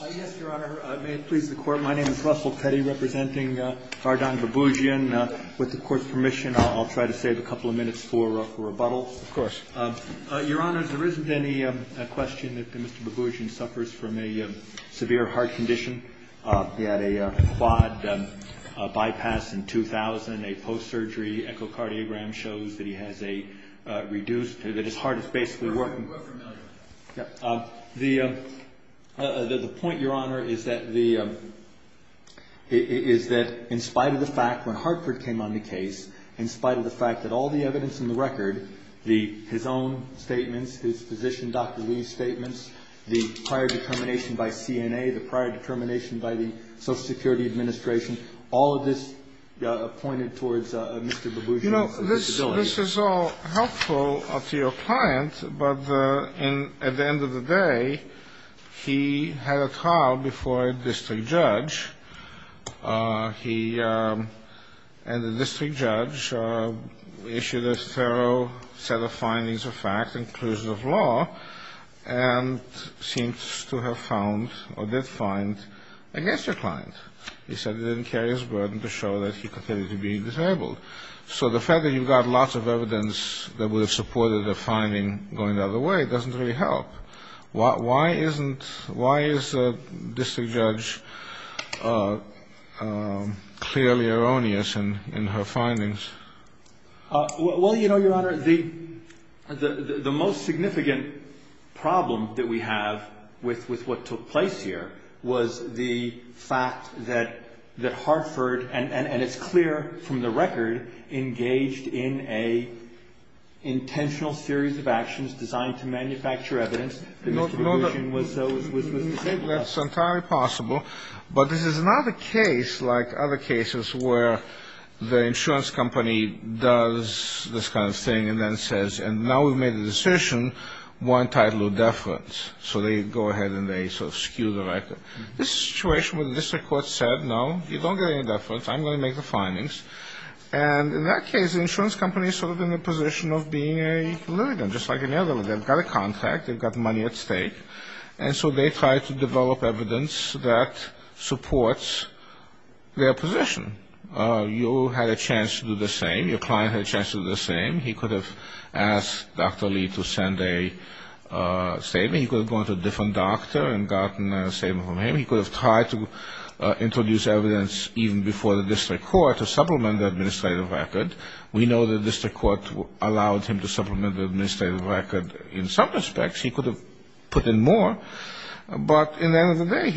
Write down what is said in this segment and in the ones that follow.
Yes, Your Honor. May it please the Court. My name is Russell Petty, representing Ghardan Bouboudjian. With the Court's permission, I'll try to save a couple of minutes for rebuttal. Of course. Your Honor, there isn't any question that Mr. Bouboudjian suffers from a severe heart condition. He had a quad bypass in 2000, a post-surgery echocardiogram shows that he has a reduced, that his heart is basically working. We're familiar. The point, Your Honor, is that in spite of the fact when Hartford came on the case, in spite of the fact that all the evidence in the record, his own statements, his physician, Dr. Lee's statements, the prior determination by CNA, the prior determination by the Social Security Administration, all of this pointed towards Mr. Bouboudjian's disability. This is all helpful to your client, but at the end of the day, he had a trial before a district judge. He and the district judge issued a thorough set of findings of fact and clues of law and seems to have found or did find against your client. He said he didn't carry his burden to show that he continued to be disabled. So the fact that you've got lots of evidence that would have supported a finding going the other way doesn't really help. Why isn't, why is the district judge clearly erroneous in her findings? Well, you know, Your Honor, the most significant problem that we have with what took place here was the fact that Hartford, and it's clear from the record, engaged in an intentional series of actions designed to manufacture evidence that Mr. Bouboudjian was disabled. That's entirely possible, but this is not a case like other cases where the insurance company does this kind of thing and then says, and now we've made a decision, we're entitled to deference. So they go ahead and they sort of skew the record. This is a situation where the district court said, no, you don't get any deference. I'm going to make the findings. And in that case, the insurance company is sort of in the position of being a litigant, just like any other. They've got a contract. They've got money at stake. And so they try to develop evidence that supports their position. You had a chance to do the same. Your client had a chance to do the same. He could have asked Dr. Lee to send a statement. He could have gone to a different doctor and gotten a statement from him. He could have tried to introduce evidence even before the district court to supplement the administrative record. We know the district court allowed him to supplement the administrative record in some respects. He could have put in more. But in the end of the day,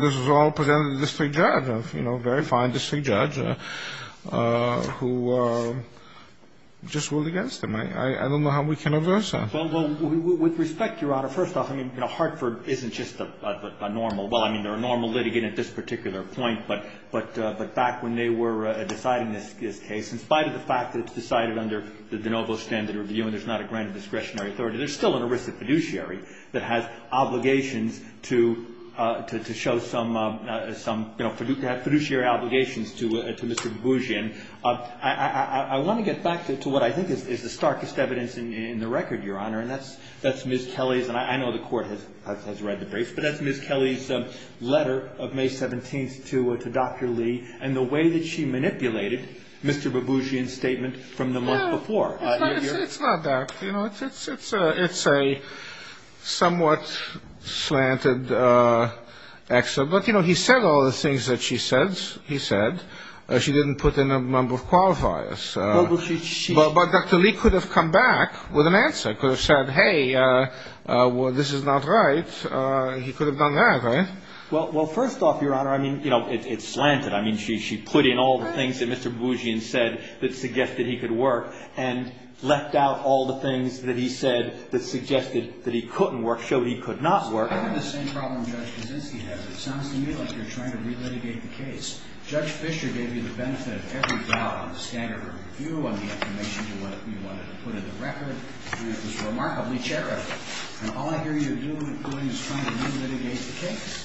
this was all presented to the district judge, a very fine district judge, who just ruled against him. I don't know how we can averse that. Well, with respect, Your Honor, first off, Hartford isn't just a normal ‑‑ well, I mean, they're a normal litigant at this particular point. But back when they were deciding this case, in spite of the fact that it's decided under the de novo standard review and there's not a grant of discretionary authority, there's still an erisic fiduciary that has obligations to show some, you know, fiduciary obligations to Mr. Baboujian. I want to get back to what I think is the starkest evidence in the record, Your Honor, and that's Ms. Kelly's. And I know the court has read the briefs, but that's Ms. Kelly's letter of May 17th to Dr. Lee and the way that she manipulated Mr. Baboujian's statement from the month before. It's not that. You know, it's a somewhat slanted excerpt. But, you know, he said all the things that she said, he said. She didn't put in a number of qualifiers. But Dr. Lee could have come back with an answer, could have said, hey, this is not right. He could have done that, right? Well, first off, Your Honor, I mean, you know, it's slanted. I mean, she put in all the things that Mr. Baboujian said that suggested he could work. And left out all the things that he said that suggested that he couldn't work, showed he could not work. The same problem Judge Kuczynski has. It sounds to me like you're trying to relitigate the case. Judge Fischer gave you the benefit of every doubt on the standard of review, on the information you wanted to put in the record. It was remarkably charitable. And all I hear you doing is trying to relitigate the case.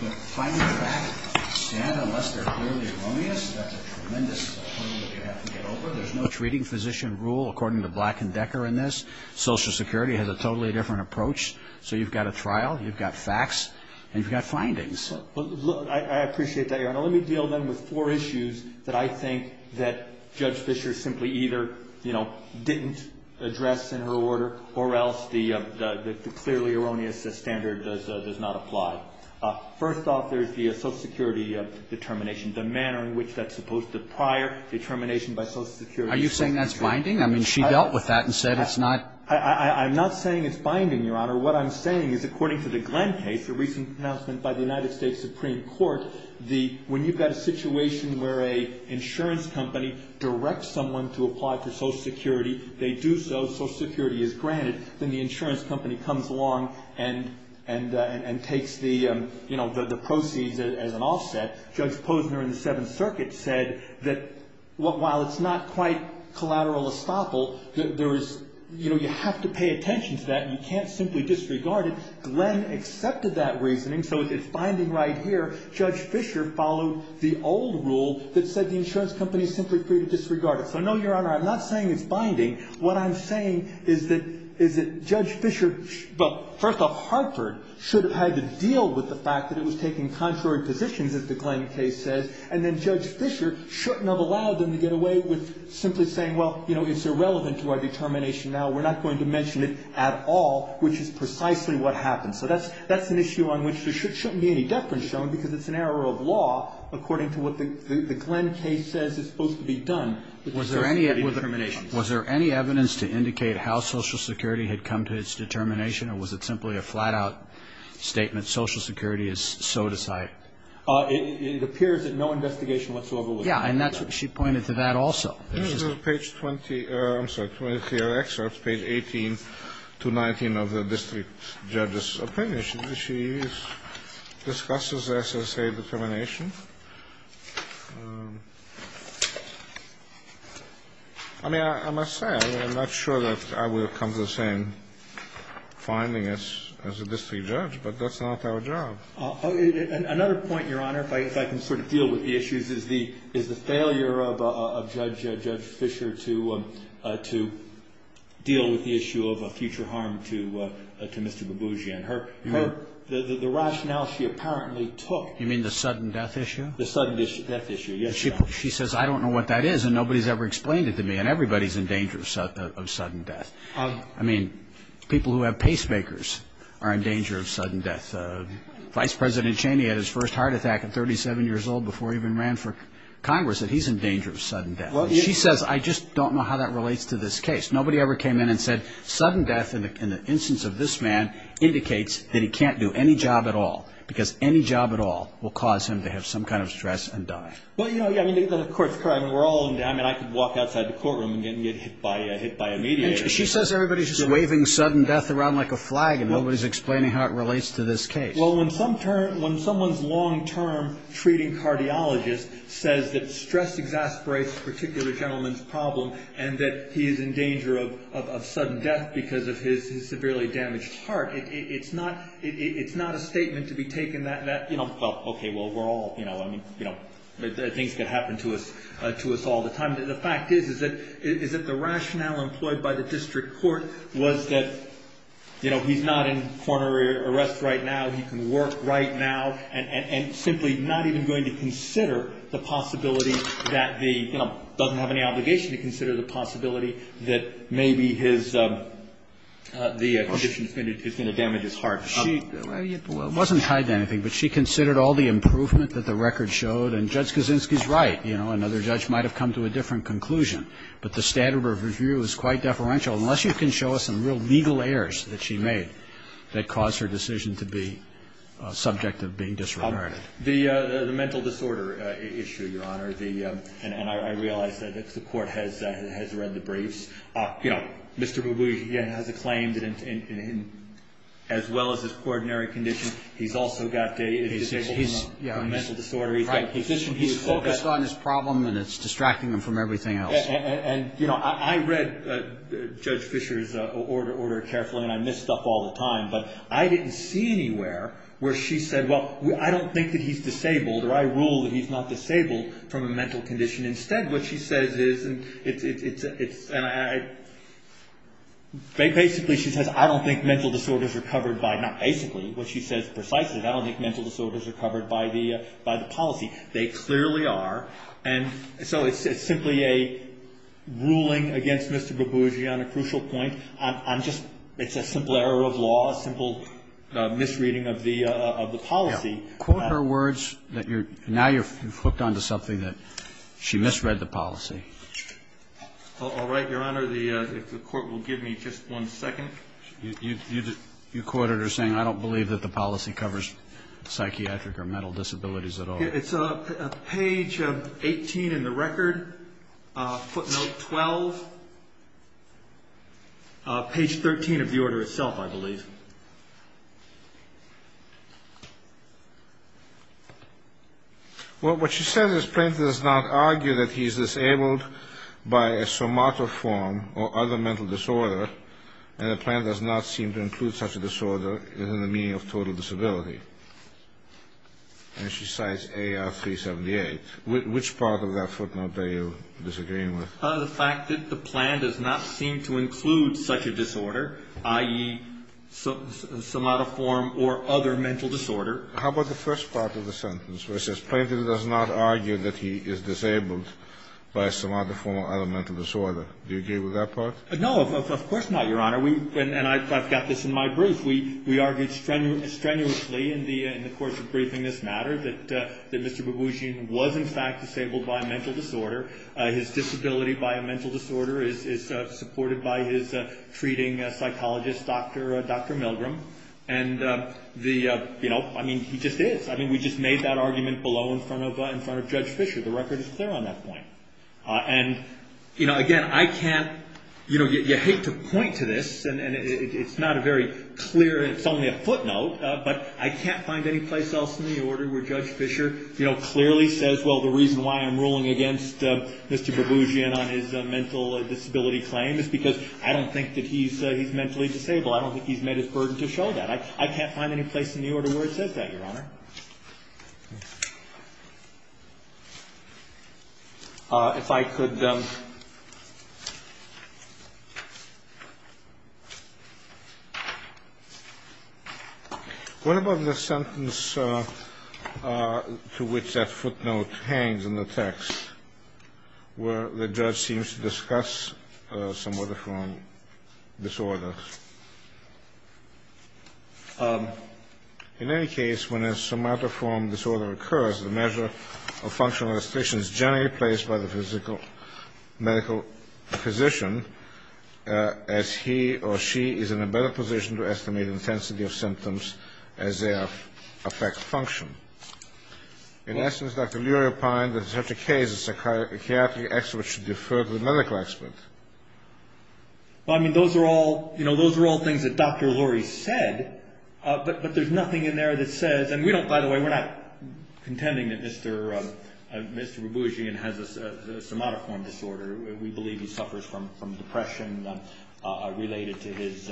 The findings of that standard, unless they're clearly erroneous, that's a tremendous burden that you have to get over. There's no treating physician rule, according to Black and Decker in this. Social Security has a totally different approach. So you've got a trial, you've got facts, and you've got findings. Well, look, I appreciate that, Your Honor. Let me deal then with four issues that I think that Judge Fischer simply either, you know, didn't address in her order, or else the clearly erroneous standard does not apply. First off, there's the Social Security determination, the manner in which that's supposed to prior determination by Social Security. Are you saying that's binding? I mean, she dealt with that and said it's not. I'm not saying it's binding, Your Honor. What I'm saying is, according to the Glenn case, a recent announcement by the United States Supreme Court, when you've got a situation where an insurance company directs someone to apply for Social Security, they do so. Social Security is granted. Then the insurance company comes along and takes the, you know, the proceeds as an offset. Judge Posner in the Seventh Circuit said that while it's not quite collateral estoppel, there is, you know, you have to pay attention to that and you can't simply disregard it. Glenn accepted that reasoning, so it's binding right here. Judge Fischer followed the old rule that said the insurance company is simply free to disregard it. What I'm saying is that Judge Fischer, well, first off, Hartford should have had to deal with the fact that it was taking contrary positions, as the Glenn case says, and then Judge Fischer shouldn't have allowed them to get away with simply saying, well, you know, it's irrelevant to our determination now. We're not going to mention it at all, which is precisely what happened. So that's an issue on which there shouldn't be any deference shown because it's an error of law, according to what the Glenn case says is supposed to be done. Was there any evidence to indicate how Social Security had come to its determination or was it simply a flat-out statement, Social Security is so to cite? It appears that no investigation whatsoever was done. Yeah, and that's what she pointed to that also. This is page 20. I'm sorry, 20 of your excerpts, page 18 to 19 of the district judge's opinion. She discusses SSA determination. I mean, I must say, I'm not sure that I would have come to the same finding as a district judge, but that's not our job. Another point, Your Honor, if I can sort of deal with the issues, is the failure of Judge Fischer to deal with the issue of a future harm to Mr. Babuji. And the rationale she apparently took. You mean the sudden death issue? The sudden death issue, yes, Your Honor. She says, I don't know what that is, and nobody's ever explained it to me, and everybody's in danger of sudden death. I mean, people who have pacemakers are in danger of sudden death. Vice President Cheney had his first heart attack at 37 years old before he even ran for Congress, and he's in danger of sudden death. She says, I just don't know how that relates to this case. Nobody ever came in and said, sudden death in the instance of this man indicates that he can't do any job at all, because any job at all will cause him to have some kind of stress and die. Well, yeah, I mean, the Court's correct. I mean, I could walk outside the courtroom and get hit by a mediator. She says everybody's just waving sudden death around like a flag, and nobody's explaining how it relates to this case. Well, when someone's long-term treating cardiologist says that stress exasperates a particular gentleman's problem and that he is in danger of sudden death because of his severely damaged heart, it's not a statement to be taken that, you know, well, okay, well, we're all, you know, I mean, you know, things can happen to us all the time. The fact is, is that the rationale employed by the district court was that, you know, he's not in coronary arrest right now, he can work right now, and simply not even going to consider the possibility that the, you know, doesn't have any obligation to consider the possibility that maybe his, the condition is going to damage his heart. So that's not a statement that you would make to the district court that she's not going to consider. I mean, you know, she wasn't tied to anything, but she considered all the improvement that the record showed, and Judge Kaczynski's right, you know, another judge might have come to a different conclusion. But the standard of review is quite deferential unless you can show us some real legal errors that she made that caused her decision to be subject of being disregarded. The mental disorder issue, Your Honor. And I realize that the court has read the briefs. You know, Mr. Boubou has a claim that as well as his ordinary condition, he's also got a mental disorder. Right. He's focused on his problem, and it's distracting him from everything else. And, you know, I read Judge Fisher's order carefully, and I miss stuff all the time, but I didn't see anywhere where she said, well, I don't think that he's disabled, or I rule that he's not disabled from a mental condition. Instead, what she says is, and it's, and I, basically she says, I don't think mental disorders are covered by, not basically, what she says precisely, I don't think mental disorders are covered by the policy. They clearly are, and so it's simply a ruling against Mr. Boubou on a crucial point. I'm just, it's a simple error of law, a simple misreading of the policy. Yeah. Quote her words that you're, now you've hooked onto something that she misread the policy. All right. Your Honor, the, if the court will give me just one second. You quoted her saying, I don't believe that the policy covers psychiatric or mental disabilities at all. It's page 18 in the record, footnote 12. Page 13 of the order itself, I believe. Well, what she says is Plaintiff does not argue that he is disabled by a somatoform or other mental disorder, and the plaintiff does not seem to include such a disorder in the meaning of total disability. And she cites A.R. 378. Which part of that footnote are you disagreeing with? The fact that the plan does not seem to include such a disorder, i.e., somatoform or other mental disorder. How about the first part of the sentence, where it says, Plaintiff does not argue that he is disabled by a somatoform or other mental disorder. Do you agree with that part? No, of course not, Your Honor. And I've got this in my brief. We argued strenuously in the course of briefing this matter that Mr. Babushian was in fact disabled by a mental disorder. His disability by a mental disorder is supported by his treating psychologist, Dr. Milgram. And, you know, I mean, he just is. I mean, we just made that argument below in front of Judge Fisher. The record is clear on that point. And, you know, again, I can't, you know, you hate to point to this. And it's not a very clear, it's only a footnote. But I can't find any place else in the order where Judge Fisher, you know, clearly says, Well, the reason why I'm ruling against Mr. Babushian on his mental disability claim is because I don't think that he's mentally disabled. I don't think he's made his burden to show that. I can't find any place in the order where it says that, Your Honor. If I could. What about the sentence to which that footnote hangs in the text where the judge seems to discuss somatoform disorder? In any case, when a somatoform disorder occurs, the measure of functional restriction is generally placed by the physical medical physician, as he or she is in a better position to estimate intensity of symptoms as they affect function. In essence, Dr. Lurie opined that in such a case, a psychiatric expert should defer to the medical expert. Well, I mean, those are all, you know, those are all things that Dr. Lurie said, but there's nothing in there that says, and we don't, by the way, we're not contending that Mr. Babushian has a somatoform disorder. We believe he suffers from depression related to his,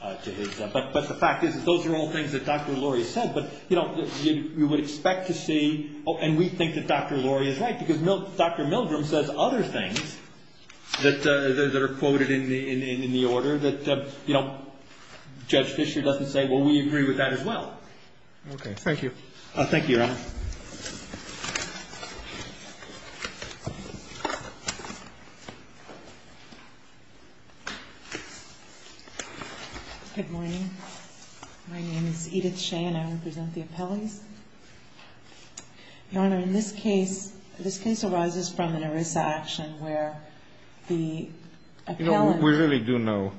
but the fact is, those are all things that Dr. Lurie said. But, you know, we would expect to see, and we think that Dr. Lurie is right, because Dr. Milgram says other things that are quoted in the order that, you know, Judge Fisher doesn't say, well, we agree with that as well. Okay. Thank you. Thank you, Your Honor. Good morning. My name is Edith Shea, and I will present the appellees. Your Honor, in this case, this case arises from an ERISA action where the appellant. You know, we really do know.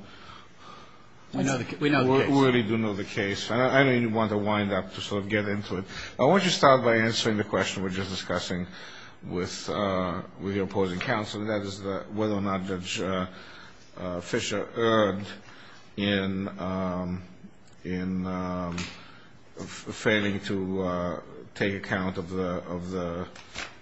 We know the case. We really do know the case, and I don't even want to wind up to sort of get into it. I want to start by answering the question we're just discussing with the opposing counsel, and that is whether or not Judge Fisher erred in failing to take account of the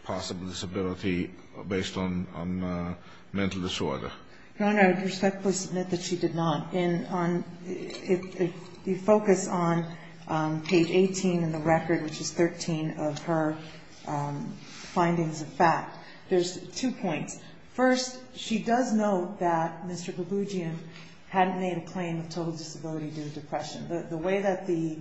possible disability based on mental disorder. Your Honor, I respectfully submit that she did not. If you focus on page 18 in the record, which is 13 of her findings of fact, there's two points. First, she does note that Mr. Gabugian hadn't made a claim of total disability due to depression. The way that the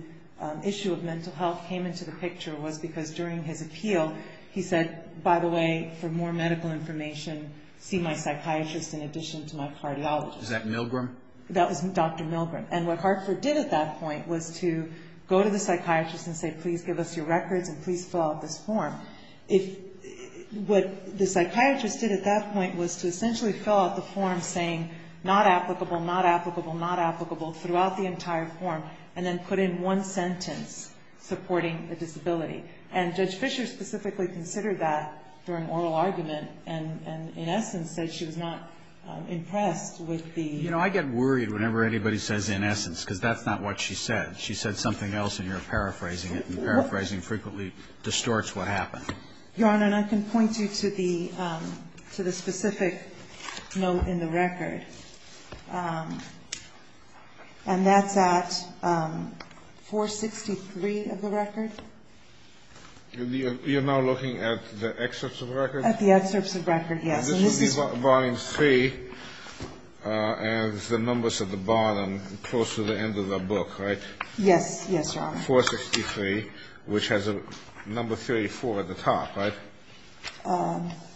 issue of mental health came into the picture was because during his appeal, he said, by the way, for more medical information, see my psychiatrist in addition to my cardiologist. Is that Milgram? That was Dr. Milgram. And what Hartford did at that point was to go to the psychiatrist and say, please give us your records and please fill out this form. What the psychiatrist did at that point was to essentially fill out the form saying, not applicable, not applicable, not applicable, throughout the entire form, and then put in one sentence supporting a disability. And Judge Fisher specifically considered that during oral argument, and in essence said she was not impressed with the ---- You know, I get worried whenever anybody says in essence, because that's not what she said. She said something else and you're paraphrasing it. And paraphrasing frequently distorts what happened. Your Honor, and I can point you to the specific note in the record. And that's at 463 of the record. You're now looking at the excerpts of the record? At the excerpts of the record, yes. And this is volume 3, and the numbers at the bottom close to the end of the book, right? Yes, yes, Your Honor. 463, which has a number 34 at the top, right?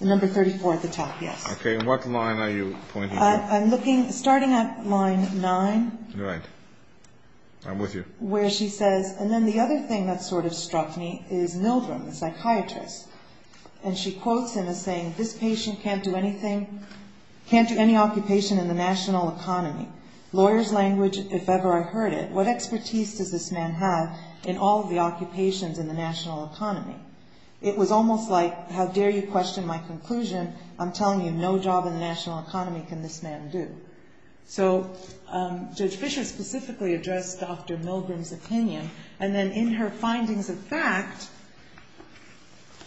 Number 34 at the top, yes. Okay. And what line are you pointing to? I'm looking, starting at line 9. Right. I'm with you. Where she says, and then the other thing that sort of struck me is Milgram, the psychiatrist. And she quotes him as saying, this patient can't do anything, can't do any occupation in the national economy. Lawyer's language, if ever I heard it. What expertise does this man have in all of the occupations in the national economy? It was almost like, how dare you question my conclusion? I'm telling you, no job in the national economy can this man do. So Judge Fisher specifically addressed Dr. Milgram's opinion. And then in her findings of fact,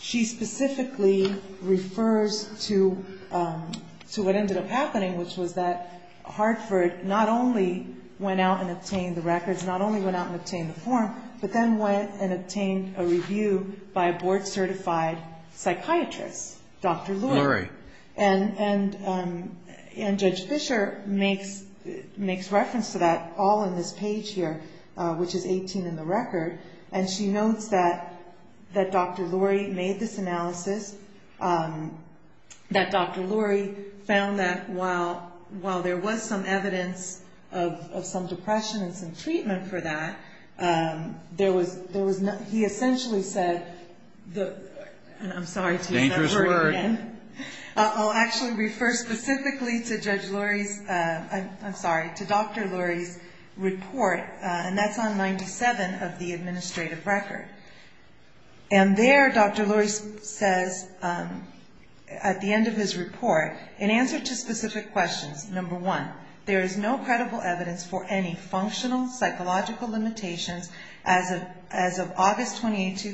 she specifically refers to what ended up happening, which was that Hartford not only went out and obtained the records, not only went out and obtained the form, but then went and obtained a review by a board-certified psychiatrist, Dr. Lurie. Lurie. And Judge Fisher makes reference to that all in this page here, which is 18 in the record. And she notes that Dr. Lurie made this analysis, that Dr. Lurie found that while there was some evidence of some depression and some treatment for that, there was, he essentially said, and I'm sorry to use that word again. Dangerous word. I'll actually refer specifically to Dr. Lurie's report, and that's on 97 of the administrative record. And there Dr. Lurie says at the end of his report, in answer to specific questions, number one, there is no credible evidence for any functional psychological limitations as of August 28,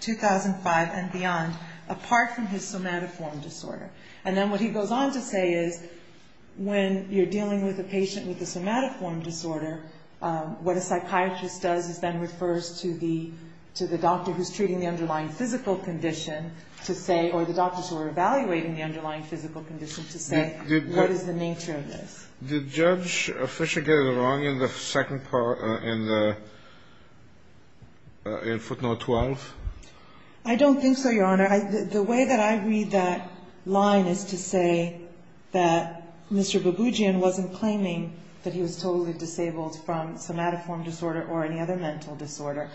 2005 and beyond, apart from his somatoform disorder. And then what he goes on to say is when you're dealing with a patient with a somatoform disorder, what a psychiatrist does is then refers to the doctor who's treating the underlying physical condition to say, or the doctors who are evaluating the underlying physical condition to say, what is the nature of this? Kennedy. Did Judge Fisher get it wrong in the second part, in footnote 12? I don't think so, Your Honor. The way that I read that line is to say that Mr. Baboujian wasn't claiming that he was totally disabled from somatoform disorder or any other mental disorder.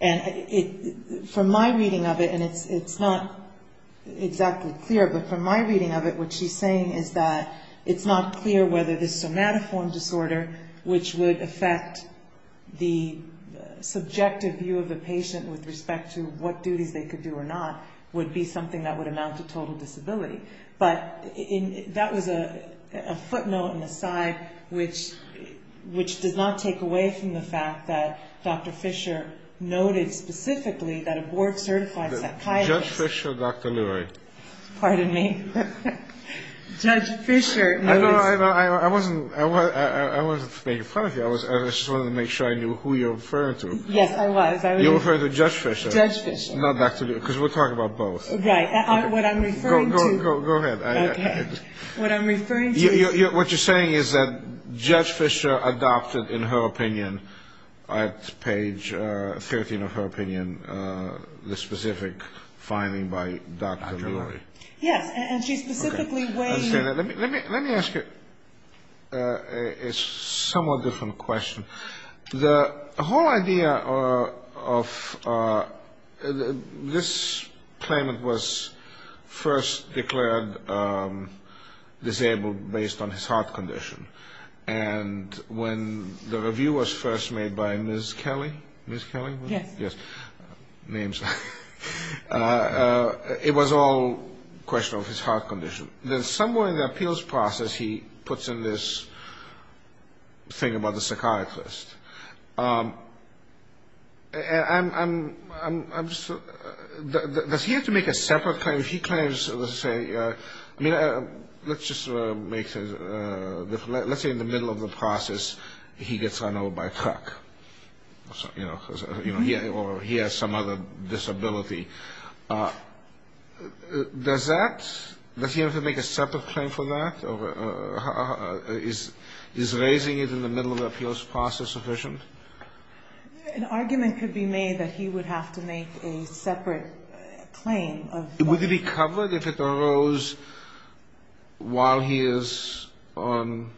And from my reading of it, and it's not exactly clear, but from my reading of it, what she's saying is that it's not clear whether this somatoform disorder, which would affect the subjective view of a patient with respect to what duties they could do or not, would be something that would amount to total disability. But that was a footnote and an aside which does not take away from the fact that Dr. Fisher noted specifically that a board-certified psychiatrist... Judge Fisher or Dr. Lurie? Pardon me. Judge Fisher. I wasn't making fun of you. I just wanted to make sure I knew who you were referring to. Yes, I was. You were referring to Judge Fisher. Judge Fisher. Not Dr. Lurie, because we're talking about both. Right. What I'm referring to... Go ahead. Okay. What I'm referring to... What you're saying is that Judge Fisher adopted, in her opinion, at page 13 of her opinion, the specific finding by Dr. Lurie. Dr. Lurie. Yes. And she specifically weighed... Let me ask you a somewhat different question. The whole idea of... This claimant was first declared disabled based on his heart condition. And when the review was first made by Ms. Kelly... Ms. Kelly? Yes. It was all a question of his heart condition. Then somewhere in the appeals process, he puts in this thing about the psychiatrist. Does he have to make a separate claim? If he claims, let's say... I mean, let's just make... Let's say in the middle of the process, he gets run over by a truck. Or he has some other disability. Does that... Does he have to make a separate claim for that? Is raising it in the middle of the appeals process sufficient? An argument could be made that he would have to make a separate claim. Would it be covered if it arose while he is on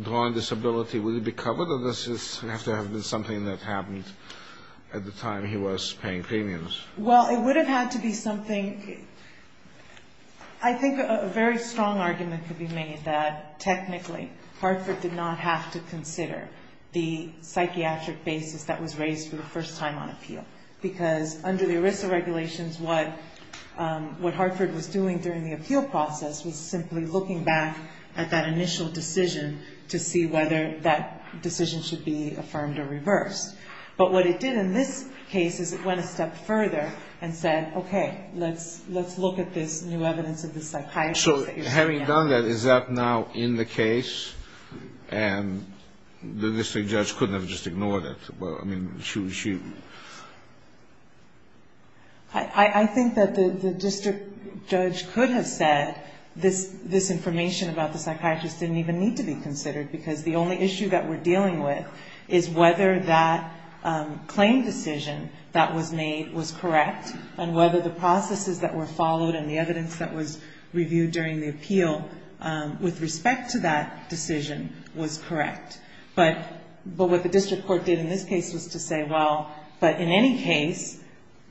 drawn disability? Would it be covered? Or does this have to have been something that happened at the time he was paying premiums? Well, it would have had to be something... I think a very strong argument could be made that, technically, Hartford did not have to consider the psychiatric basis that was raised for the first time on appeal. Because under the ERISA regulations, what Hartford was doing during the appeal process was simply looking back at that initial decision to see whether that decision should be affirmed or reversed. But what it did in this case is it went a step further and said, okay, let's look at this new evidence of the psychiatry. So having done that, is that now in the case? And the district judge couldn't have just ignored it? I mean, she... I think that the district judge could have said this information about the psychiatrist didn't even need to be considered because the only issue that we're dealing with is whether that claim decision that was made was correct and whether the processes that were followed and the evidence that was reviewed during the appeal with respect to that decision was correct. But what the district court did in this case was to say, well, but in any case,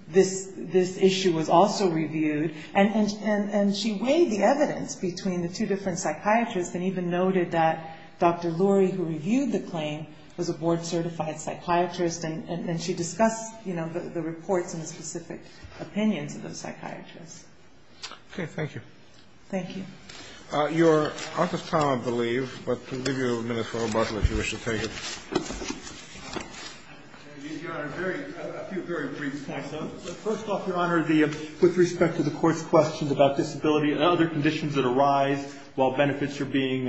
this issue was also reviewed. And she weighed the evidence between the two different psychiatrists and even noted that Dr. Lurie, who reviewed the claim, was a board-certified psychiatrist, and she discussed the reports and the specific opinions of those psychiatrists. Okay. Thank you. Thank you. You're out of time, I believe, but we'll give you a minute for rebuttal if you wish to take it. Your Honor, a few very brief comments. First off, Your Honor, with respect to the court's questions about disability and other conditions that arise while benefits are being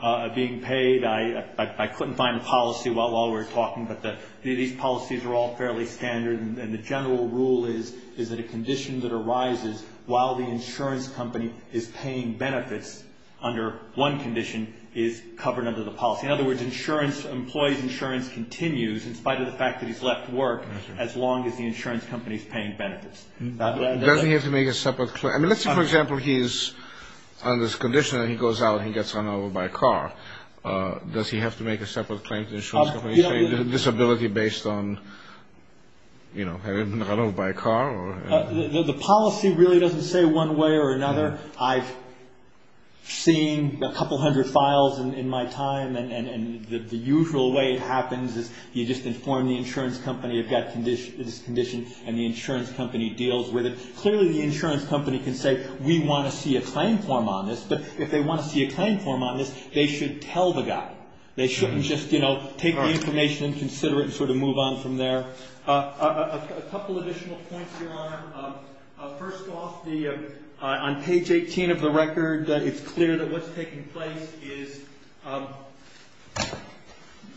paid, I couldn't find a policy while we were talking, but these policies are all fairly standard, and the general rule is that a condition that arises while the insurance company is paying benefits under one condition is covered under the policy. In other words, employees' insurance continues in spite of the fact that he's left work as long as the insurance company is paying benefits. Doesn't he have to make a separate claim? I mean, let's say, for example, he's on this condition, and he goes out and he gets run over by a car. Does he have to make a separate claim to the insurance company saying disability based on having been run over by a car? The policy really doesn't say one way or another. I've seen a couple hundred files in my time, and the usual way it happens is you just inform the insurance company you've got this condition, and the insurance company deals with it. Clearly the insurance company can say we want to see a claim form on this, but if they want to see a claim form on this, they should tell the guy. They shouldn't just, you know, take the information and consider it A couple additional points, Your Honor. First off, on page 18 of the record, it's clear that what's taking place is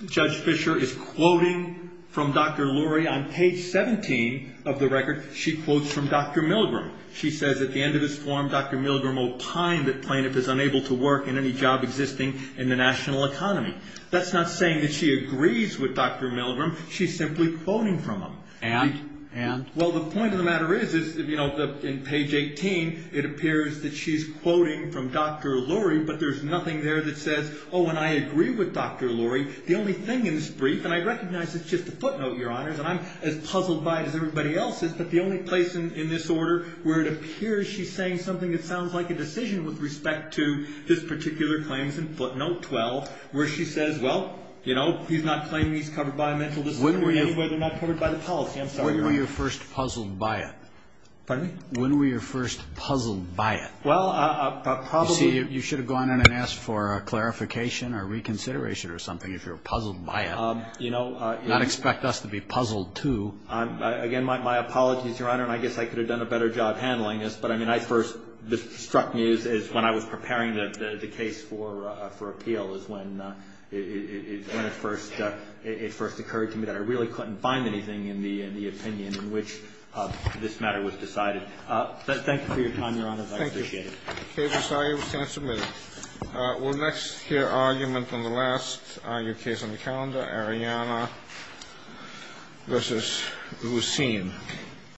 Judge Fisher is quoting from Dr. Lurie. On page 17 of the record, she quotes from Dr. Milgram. She says at the end of his form, Dr. Milgram will pine that plaintiff is unable to work in any job existing in the national economy. That's not saying that she agrees with Dr. Milgram. She's simply quoting from him. And? Well, the point of the matter is, in page 18, it appears that she's quoting from Dr. Lurie, but there's nothing there that says, oh, and I agree with Dr. Lurie. The only thing in this brief, and I recognize it's just a footnote, Your Honor, and I'm as puzzled by it as everybody else is, but the only place in this order where it appears she's saying something that sounds like a decision with respect to this particular claim is in footnote 12, where she says, well, you know, he's not claiming he's covered by a mental disability When were you first puzzled by it? Pardon me? When were you first puzzled by it? Well, probably You see, you should have gone in and asked for a clarification or reconsideration or something if you were puzzled by it. You know, Do not expect us to be puzzled, too. Again, my apologies, Your Honor, and I guess I could have done a better job handling this, but I mean, I first struck me as when I was preparing the case for appeal is when it first occurred to me that I really couldn't find anything in the opinion in which this matter was decided. Thank you for your time, Your Honor. Thank you. I appreciate it. Okay. This argument stands submitted. We'll next hear argument on the last case on the calendar, Ariana v. Lucene.